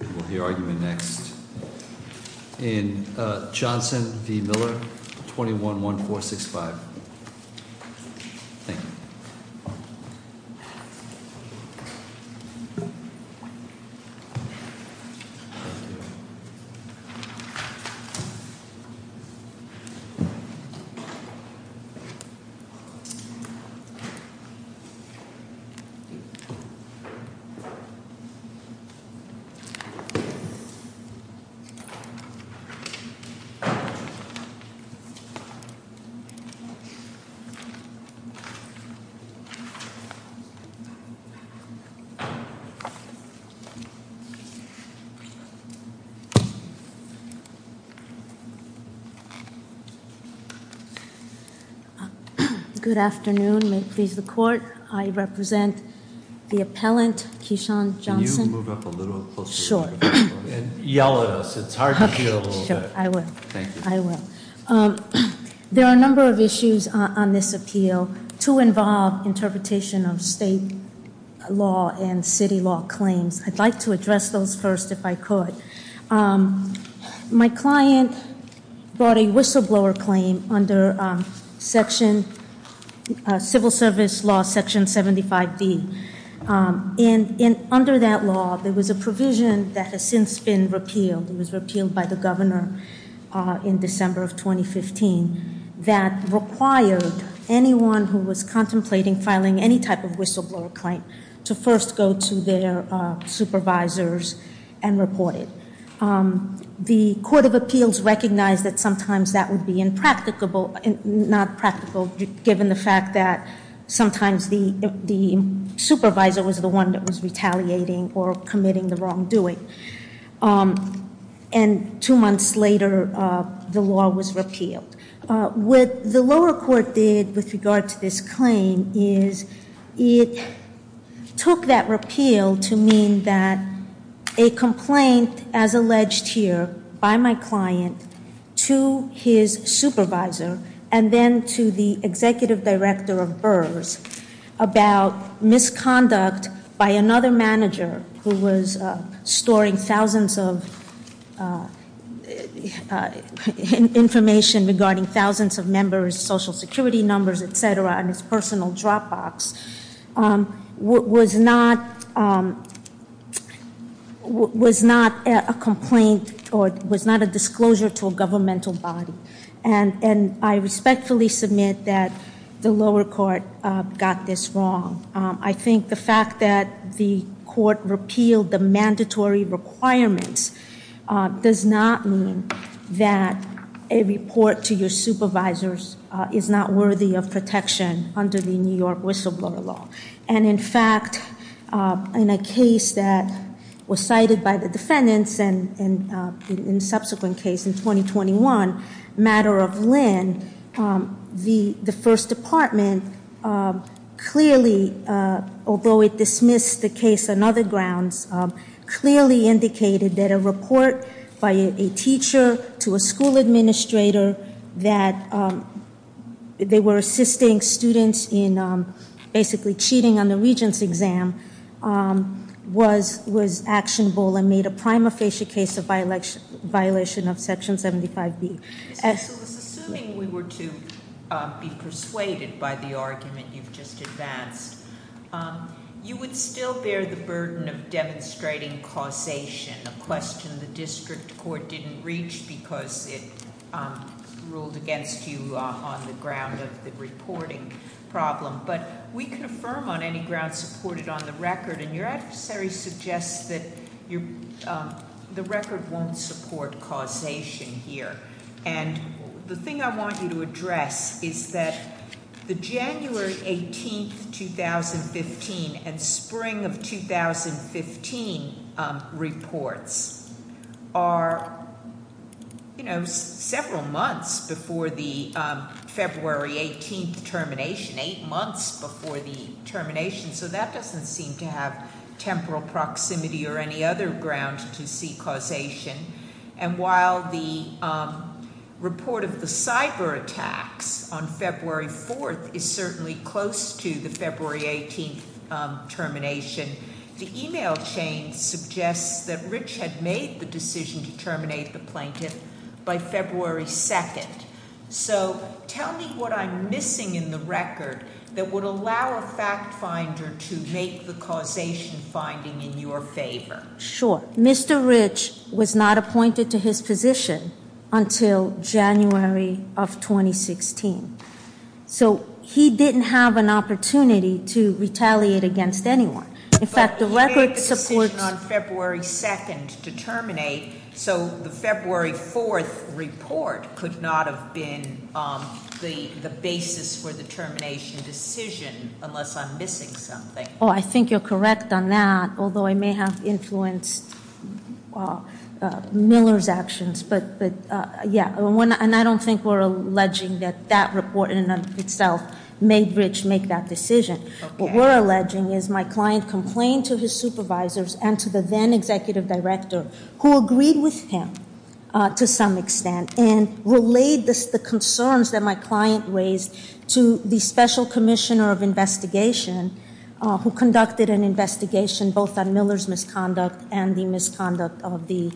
We'll hear argument next in Johnson v. Miller, 21-1465. Thank you. Good afternoon. May it please the court, I represent the appellant, Kishan Johnson. Can you move up a little closer to the microphone? Sure. And yell at us, it's hard to hear a little bit. Okay, sure, I will. Thank you. I will. There are a number of issues on this appeal to involve interpretation of state law and city law claims. I'd like to address those first if I could. My client brought a whistleblower claim under Civil Service Law, Section 75D. And under that law, there was a provision that has since been repealed. It was repealed by the governor in December of 2015. That required anyone who was contemplating filing any type of whistleblower claim to first go to their supervisors and report it. The Court of Appeals recognized that sometimes that would be impracticable, not practical, given the fact that sometimes the supervisor was the one that was retaliating or committing the wrongdoing. And two months later, the law was repealed. What the lower court did with regard to this claim is it took that repeal to mean that a complaint, as alleged here by my client, to his supervisor and then to the executive director of Burrs about misconduct by another manager who was storing thousands of information regarding thousands of members, social security numbers, etc., on his personal Dropbox, was not a complaint or was not a disclosure to a governmental body. And I respectfully submit that the lower court got this wrong. I think the fact that the court repealed the mandatory requirements does not mean that a report to your supervisors is not worthy of protection under the New York whistleblower law. And in fact, in a case that was cited by the defendants and in subsequent case in 2021, matter of Lynn, the first department clearly, although it dismissed the case on other grounds, clearly indicated that a report by a teacher to a school administrator that they were assisting students in basically cheating on the regents exam was actionable and made a prima facie case of violation of section 75B. Assuming we were to be persuaded by the argument you've just advanced, you would still bear the burden of demonstrating causation, a question the district court didn't reach because it ruled against you on the ground of the reporting problem. But we can affirm on any ground supported on the record, and your adversary suggests that the record won't support causation here. And the thing I want you to address is that the January 18th, 2015 and spring of 2015 reports are several months before the February 18th termination, eight months before the termination. So that doesn't seem to have temporal proximity or any other ground to see causation. And while the report of the cyber attacks on February 4th is certainly close to the February 18th termination, the email chain suggests that Rich had made the decision to terminate the plaintiff by February 2nd. So tell me what I'm missing in the record that would allow a fact finder to make the causation finding in your favor. Sure, Mr. Rich was not appointed to his position until January of 2016. So he didn't have an opportunity to retaliate against anyone. In fact the record supports- But he made the decision on February 2nd to terminate. So the February 4th report could not have been the basis for the termination decision unless I'm missing something. I think you're correct on that, although I may have influenced Miller's actions. But yeah, and I don't think we're alleging that that report in and of itself made Rich make that decision. What we're alleging is my client complained to his supervisors and to the then executive director who agreed with him to some extent. And relayed the concerns that my client raised to the special commissioner of investigation who conducted an investigation both on Miller's misconduct and the misconduct of the,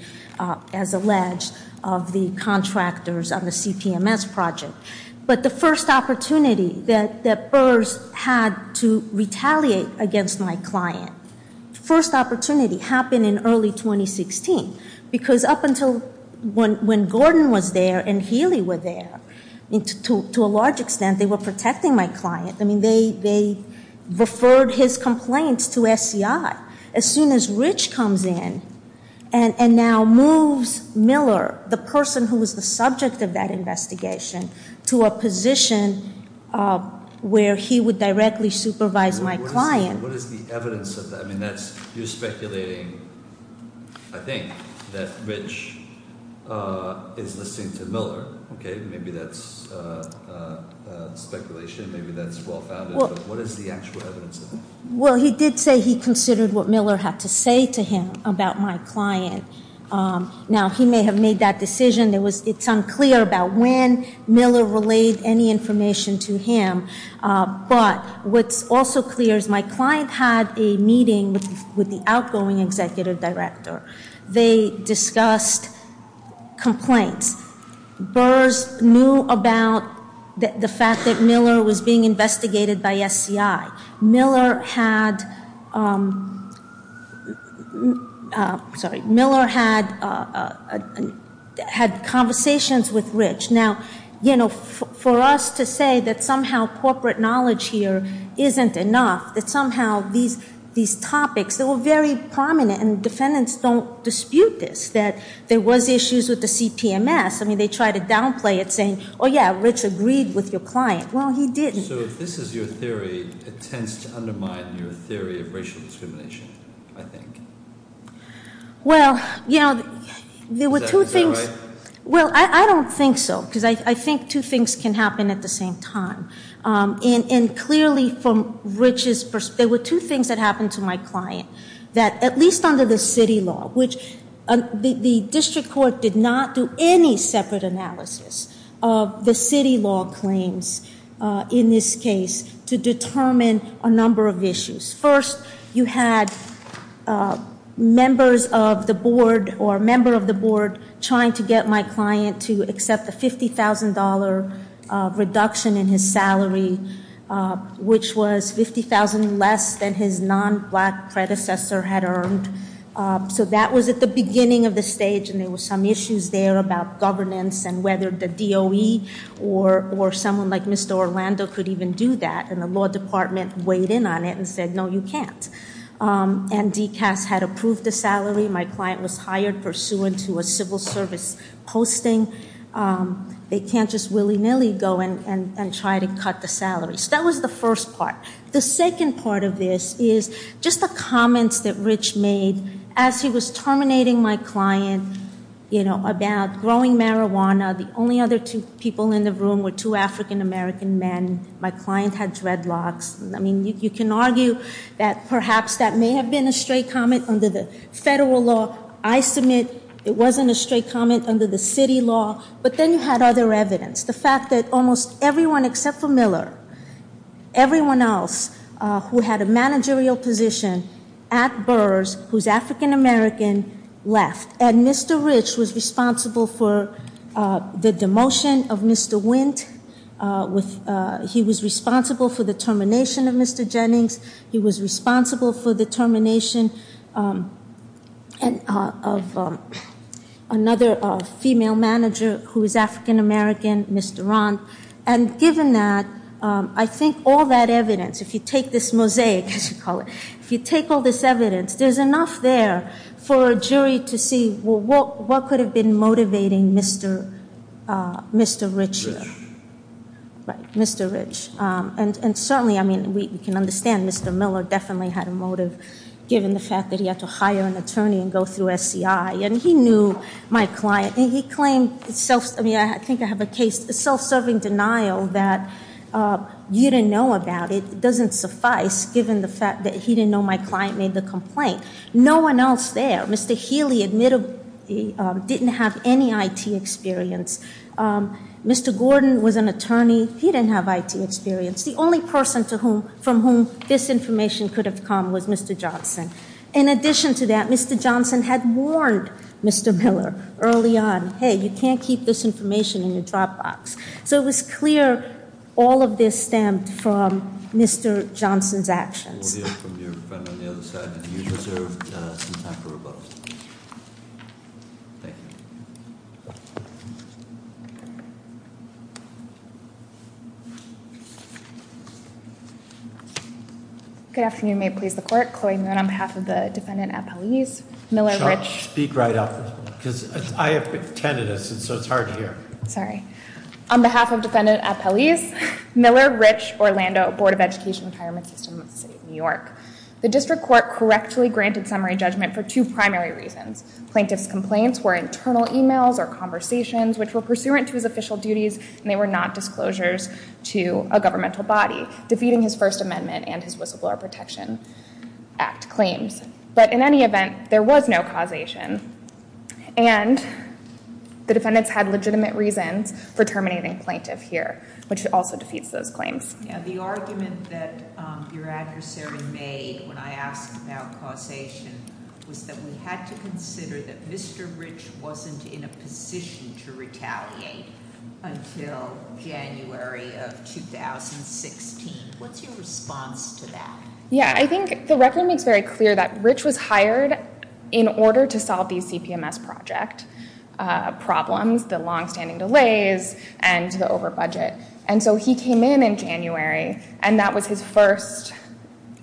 as alleged, of the contractors on the CPMS project. But the first opportunity that Burrs had to retaliate against my client, the first opportunity happened in early 2016. Because up until when Gordon was there and Healy were there, to a large extent they were protecting my client. They referred his complaints to SCI. As soon as Rich comes in and now moves Miller, the person who was the subject of that investigation, to a position where he would directly supervise my client. What is the evidence of that? You're speculating, I think, that Rich is listening to Miller. Maybe that's speculation. Maybe that's well-founded. What is the actual evidence of that? Well, he did say he considered what Miller had to say to him about my client. Now, he may have made that decision. It's unclear about when Miller relayed any information to him. But what's also clear is my client had a meeting with the outgoing executive director. They discussed complaints. Burrs knew about the fact that Miller was being investigated by SCI. Miller had conversations with Rich. Now, you know, for us to say that somehow corporate knowledge here isn't enough, that somehow these topics that were very prominent, and defendants don't dispute this, that there was issues with the CPMS. I mean, they try to downplay it saying, oh, yeah, Rich agreed with your client. Well, he didn't. So if this is your theory, it tends to undermine your theory of racial discrimination, I think. Well, you know, there were two things. Is that right? Well, I don't think so, because I think two things can happen at the same time. And clearly from Rich's perspective, there were two things that happened to my client, that at least under the city law, which the district court did not do any separate analysis of the city law claims in this case to determine a number of issues. First, you had members of the board or a member of the board trying to get my client to accept a $50,000 reduction in his salary, which was $50,000 less than his non-black predecessor had earned. So that was at the beginning of the stage, and there were some issues there about governance and whether the DOE or someone like Mr. Orlando could even do that. And the law department weighed in on it and said, no, you can't. And DCAS had approved the salary. My client was hired pursuant to a civil service posting. They can't just willy-nilly go and try to cut the salary. So that was the first part. The second part of this is just the comments that Rich made as he was terminating my client about growing marijuana. The only other two people in the room were two African-American men. My client had dreadlocks. I mean, you can argue that perhaps that may have been a straight comment under the federal law. I submit it wasn't a straight comment under the city law. But then you had other evidence. The fact that almost everyone except for Miller, everyone else who had a managerial position at Burrs, who's African-American, left. And Mr. Rich was responsible for the demotion of Mr. Wint. He was responsible for the termination of Mr. Jennings. He was responsible for the termination of another female manager who is African-American, Mr. Rond. And given that, I think all that evidence, if you take this mosaic, as you call it, if you take all this evidence, there's enough there for a jury to see what could have been motivating Mr. Rich here. Right, Mr. Rich. And certainly, I mean, we can understand Mr. Miller definitely had a motive, given the fact that he had to hire an attorney and go through SCI. And he knew my client. And he claimed, I think I have a case, self-serving denial that you didn't know about. It doesn't suffice, given the fact that he didn't know my client made the complaint. No one else there, Mr. Healy, admittedly, didn't have any IT experience. Mr. Gordon was an attorney. He didn't have IT experience. The only person from whom this information could have come was Mr. Johnson. In addition to that, Mr. Johnson had warned Mr. Miller early on, hey, you can't keep this information in your drop box. So it was clear all of this stemmed from Mr. Johnson's actions. We'll hear from your friend on the other side. You deserve some time for rebuttal. Thank you. Good afternoon. May it please the court. Chloe Moon on behalf of the defendant at police. Miller, Rich. Speak right up. Because I have attended this, so it's hard to hear. Sorry. On behalf of defendant at police, Miller, Rich, Orlando, Board of Education Retirement System of the City of New York. The district court correctly granted summary judgment for two primary reasons. Plaintiff's complaints were internal emails or conversations, which were pursuant to his official duties, and they were not disclosures to a governmental body, defeating his First Amendment and his Whistleblower Protection Act claims. But in any event, there was no causation. And the defendants had legitimate reasons for terminating plaintiff here, which also defeats those claims. Now, the argument that your adversary made when I asked about causation was that we had to consider that Mr. Rich wasn't in a position to retaliate until January of 2016. What's your response to that? Yeah, I think the record makes very clear that Rich was hired in order to solve the CPMS project problems, the longstanding delays, and the over budget. And so he came in in January, and that was his first.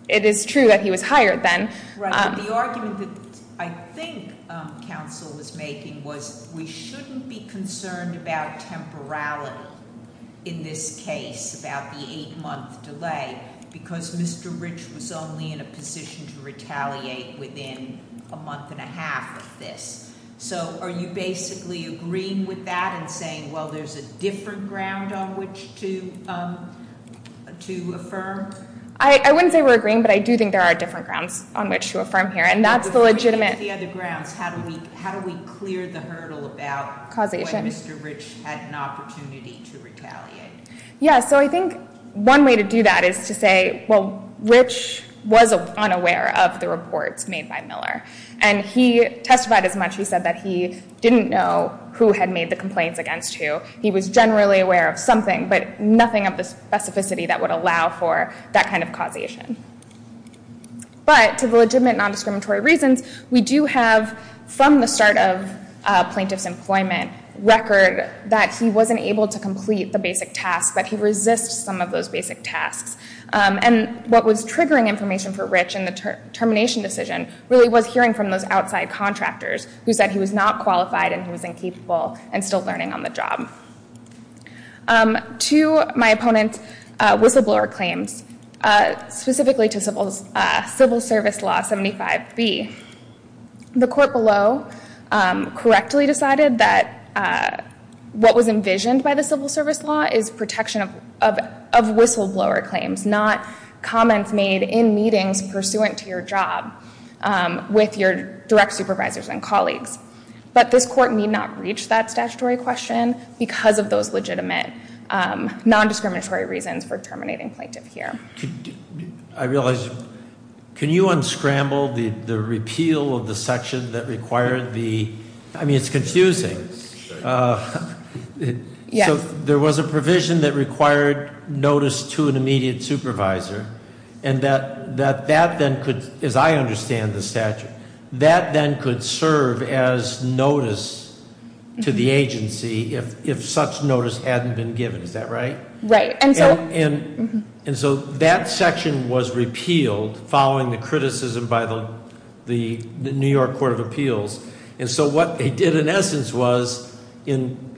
It is true that he was hired then. Right, but the argument that I think counsel was making was we shouldn't be concerned about temporality in this case, about the eight month delay, because Mr. Rich was only in a position to retaliate within a month and a half of this. So are you basically agreeing with that and saying, well, there's a different ground on which to affirm? I wouldn't say we're agreeing, but I do think there are different grounds on which to affirm here. And that's the legitimate- If we agree with the other grounds, how do we clear the hurdle about when Mr. Rich had an opportunity to retaliate? Yeah, so I think one way to do that is to say, well, Rich was unaware of the reports made by Miller. And he testified as much. He said that he didn't know who had made the complaints against who. He was generally aware of something, but nothing of the specificity that would allow for that kind of causation. But to the legitimate non-discriminatory reasons, we do have, from the start of plaintiff's employment record, that he wasn't able to complete the basic task, that he resists some of those basic tasks. And what was triggering information for Rich in the termination decision really was hearing from those outside contractors who said he was not qualified and he was incapable and still learning on the job. To my opponent's whistleblower claims, specifically to Civil Service Law 75B, the court below correctly decided that what was envisioned by the Civil Service Law is protection of whistleblower claims, not comments made in meetings pursuant to your job with your direct supervisors and colleagues. But this court need not reach that statutory question because of those legitimate non-discriminatory reasons for terminating plaintiff here. I realize, can you unscramble the repeal of the section that required the, I mean, it's confusing. So there was a provision that required notice to an immediate supervisor, and that then could, as I understand the statute, that then could serve as notice to the agency if such notice hadn't been given. Is that right? Right. And so that section was repealed following the criticism by the New York Court of Appeals. And so what they did in essence was, in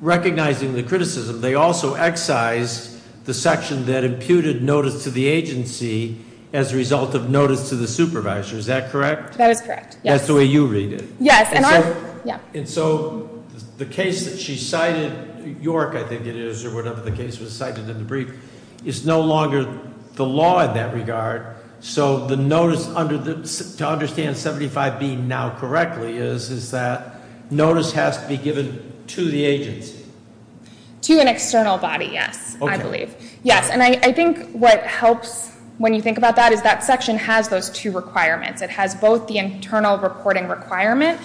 recognizing the criticism, they also excised the section that imputed notice to the agency as a result of notice to the supervisor. Is that correct? That is correct, yes. That's the way you read it. Yes. And so the case that she cited, York, I think it is, or whatever the case was cited in the brief, is no longer the law in that regard. So to understand 75B now correctly is that notice has to be given to the agency? To an external body, yes, I believe. Okay. Yes, and I think what helps when you think about that is that section has those two requirements. It has both the internal reporting requirement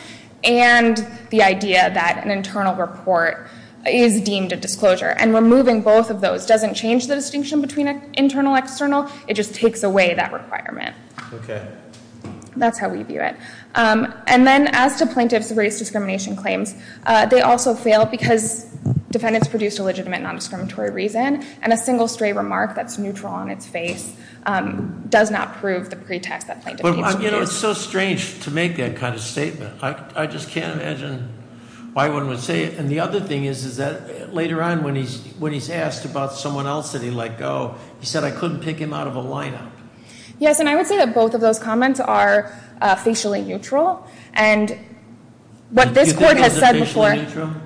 and the idea that an internal report is deemed a disclosure. And removing both of those doesn't change the distinction between internal and external. It just takes away that requirement. Okay. That's how we view it. And then as to plaintiff's race discrimination claims, they also fail because defendants produced a legitimate non-discriminatory reason. And a single stray remark that's neutral on its face does not prove the pretext that plaintiff needs to use. You know, it's so strange to make that kind of statement. I just can't imagine why one would say it. And the other thing is that later on when he's asked about someone else that he let go, he said, I couldn't pick him out of a lineup. Yes, and I would say that both of those comments are facially neutral. And what this court has said before- Do you think it's a facially neutral?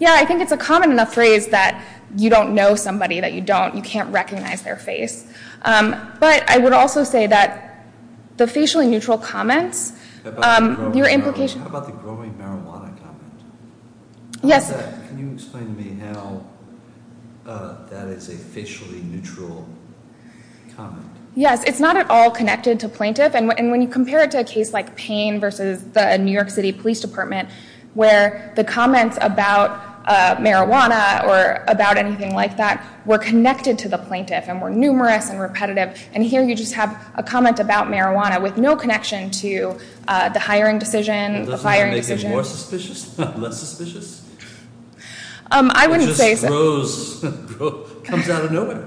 Yeah, I think it's a common enough phrase that you don't know somebody that you don't. You can't recognize their face. But I would also say that the facially neutral comments- How about the growing marijuana comment? Yes, sir. Can you explain to me how that is a facially neutral comment? Yes, it's not at all connected to plaintiff. And when you compare it to a case like Payne versus the New York City Police Department where the comments about marijuana or about anything like that were connected to the plaintiff and were numerous and repetitive, and here you just have a comment about marijuana with no connection to the hiring decision, Doesn't that make it more suspicious, less suspicious? I wouldn't say so. It just grows, comes out of nowhere.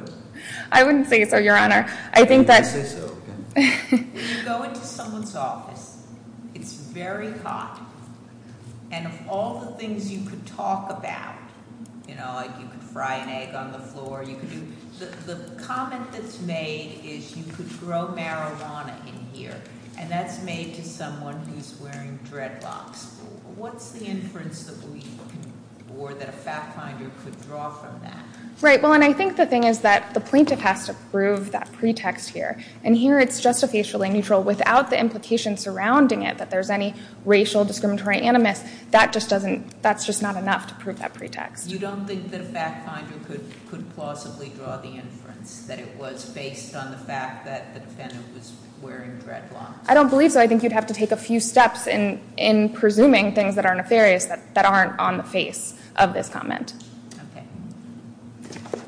I wouldn't say so, your honor. I think that- You wouldn't say so. When you go into someone's office, it's very hot. And of all the things you could talk about, like you could fry an egg on the floor, the comment that's made is you could grow marijuana in here. And that's made to someone who's wearing dreadlocks. What's the inference that we- or that a fact finder could draw from that? Right. Well, and I think the thing is that the plaintiff has to prove that pretext here. And here it's just a facially neutral without the implications surrounding it, that there's any racial discriminatory animus. That just doesn't- that's just not enough to prove that pretext. You don't think that a fact finder could plausibly draw the inference that it was based on the fact that the defendant was wearing dreadlocks? I don't believe so. I think you'd have to take a few steps in presuming things that are nefarious that aren't on the face of this comment. Okay.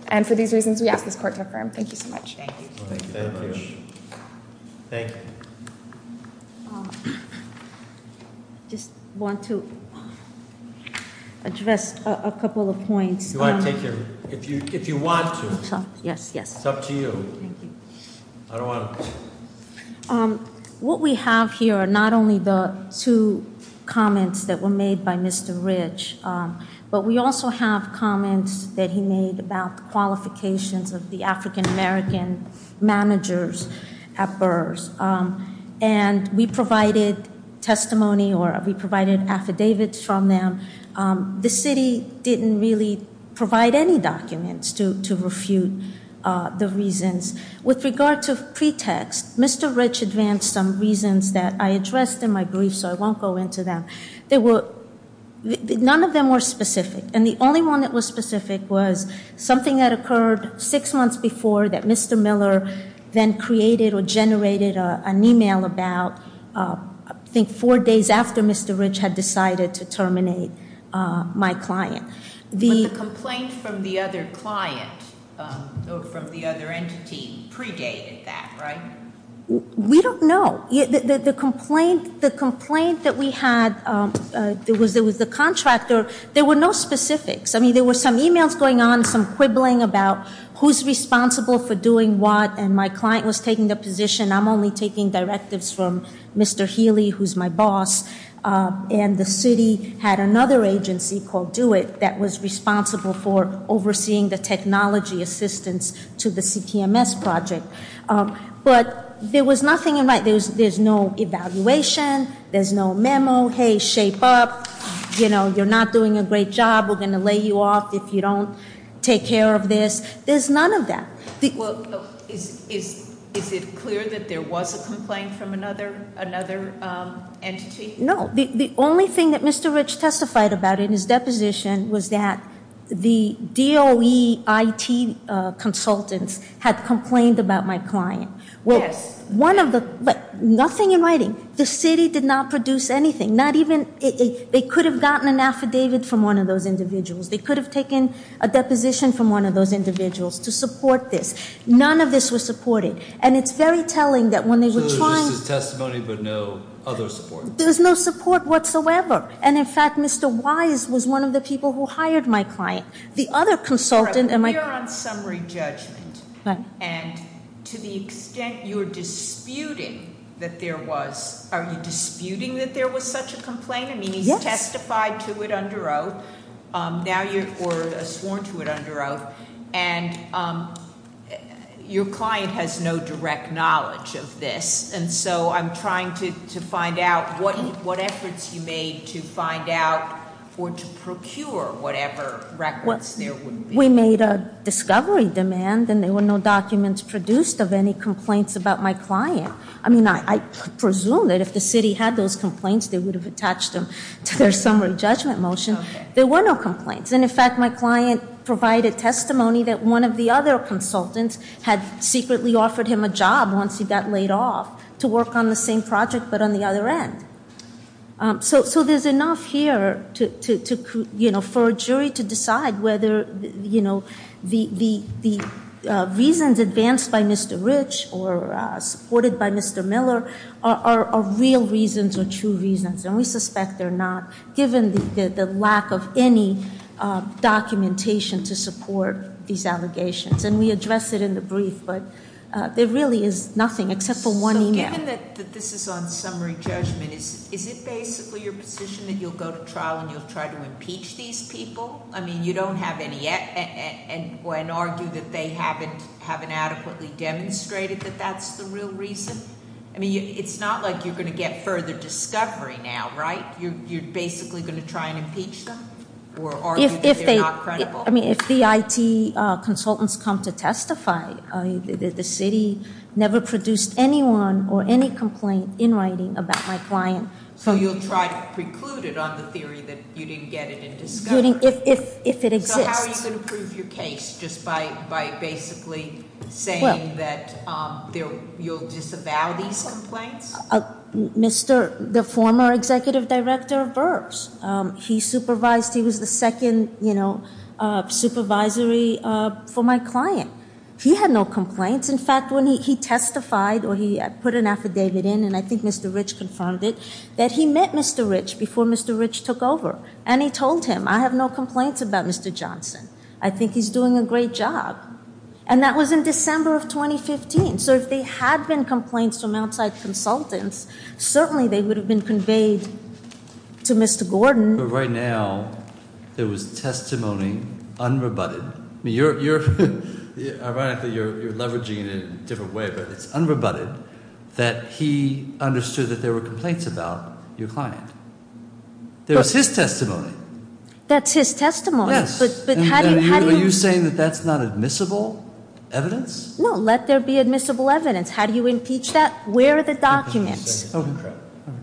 And for these reasons, we ask this court to affirm. Thank you so much. Thank you. Thank you very much. Thank you. I just want to address a couple of points. You want to take your- if you want to. Yes, yes. It's up to you. Thank you. I don't want to. What we have here are not only the two comments that were made by Mr. Rich, but we also have comments that he made about the qualifications of the African-American managers at Burrs. And we provided testimony or we provided affidavits from them. The city didn't really provide any documents to refute the reasons. With regard to pretext, Mr. Rich advanced some reasons that I addressed in my brief, so I won't go into them. None of them were specific. And the only one that was specific was something that occurred six months before that Mr. Miller then created or generated an email about, I think, four days after Mr. Rich had decided to terminate my client. But the complaint from the other client or from the other entity predated that, right? We don't know. The complaint that we had, it was the contractor. There were no specifics. I mean, there were some emails going on, some quibbling about who's responsible for doing what, and my client was taking the position, I'm only taking directives from Mr. Healy, who's my boss. And the city had another agency called DO-IT that was responsible for overseeing the technology assistance to the CTMS project. But there was nothing in right. There's no evaluation. There's no memo. Hey, shape up. You're not doing a great job. We're going to lay you off if you don't take care of this. There's none of that. Is it clear that there was a complaint from another entity? No. The only thing that Mr. Rich testified about in his deposition was that the DO-IT consultants had complained about my client. Yes. Nothing in writing. The city did not produce anything. They could have gotten an affidavit from one of those individuals. They could have taken a deposition from one of those individuals to support this. None of this was supported. And it's very telling that when they were trying- So this is testimony but no other support? There's no support whatsoever. And, in fact, Mr. Wise was one of the people who hired my client. The other consultant- We are on summary judgment. And to the extent you're disputing that there was, are you disputing that there was such a complaint? Yes. You testified to it under oath. Now you're sworn to it under oath. And your client has no direct knowledge of this. And so I'm trying to find out what efforts you made to find out or to procure whatever records there would be. We made a discovery demand and there were no documents produced of any complaints about my client. I mean, I presume that if the city had those complaints they would have attached them to their summary judgment motion. There were no complaints. And, in fact, my client provided testimony that one of the other consultants had secretly offered him a job once he got laid off to work on the same project but on the other end. So there's enough here for a jury to decide whether the reasons advanced by Mr. Rich or supported by Mr. Miller are real reasons or true reasons. And we suspect they're not, given the lack of any documentation to support these allegations. And we address it in the brief, but there really is nothing except for one email. Given that this is on summary judgment, is it basically your position that you'll go to trial and you'll try to impeach these people? I mean, you don't have any, and argue that they haven't adequately demonstrated that that's the real reason? I mean, it's not like you're going to get further discovery now, right? You're basically going to try and impeach them or argue that they're not credible? I mean, if the IT consultants come to testify, the city never produced anyone or any complaint in writing about my client. So you'll try to preclude it on the theory that you didn't get it in discovery? If it exists. So how are you going to prove your case just by basically saying that you'll disavow these complaints? The former executive director of Burbs, he supervised, he was the second supervisory for my client. He had no complaints. In fact, when he testified or he put an affidavit in, and I think Mr. Rich confirmed it, that he met Mr. Rich before Mr. Rich took over. And he told him, I have no complaints about Mr. Johnson. I think he's doing a great job. And that was in December of 2015. So if they had been complaints from outside consultants, certainly they would have been conveyed to Mr. Gordon. But right now, there was testimony unrebutted. I mean, ironically, you're leveraging it in a different way. But it's unrebutted that he understood that there were complaints about your client. That was his testimony. That's his testimony. Yes. Are you saying that that's not admissible evidence? No, let there be admissible evidence. How do you impeach that? Where are the documents?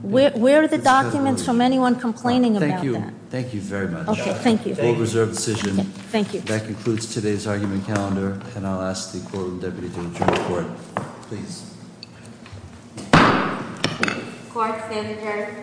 Where are the documents from anyone complaining about that? Thank you. Thank you very much. Okay, thank you. We'll reserve the decision. That concludes today's argument calendar. And I'll ask the Quorum Deputy to adjourn the Court. Please. Court is adjourned.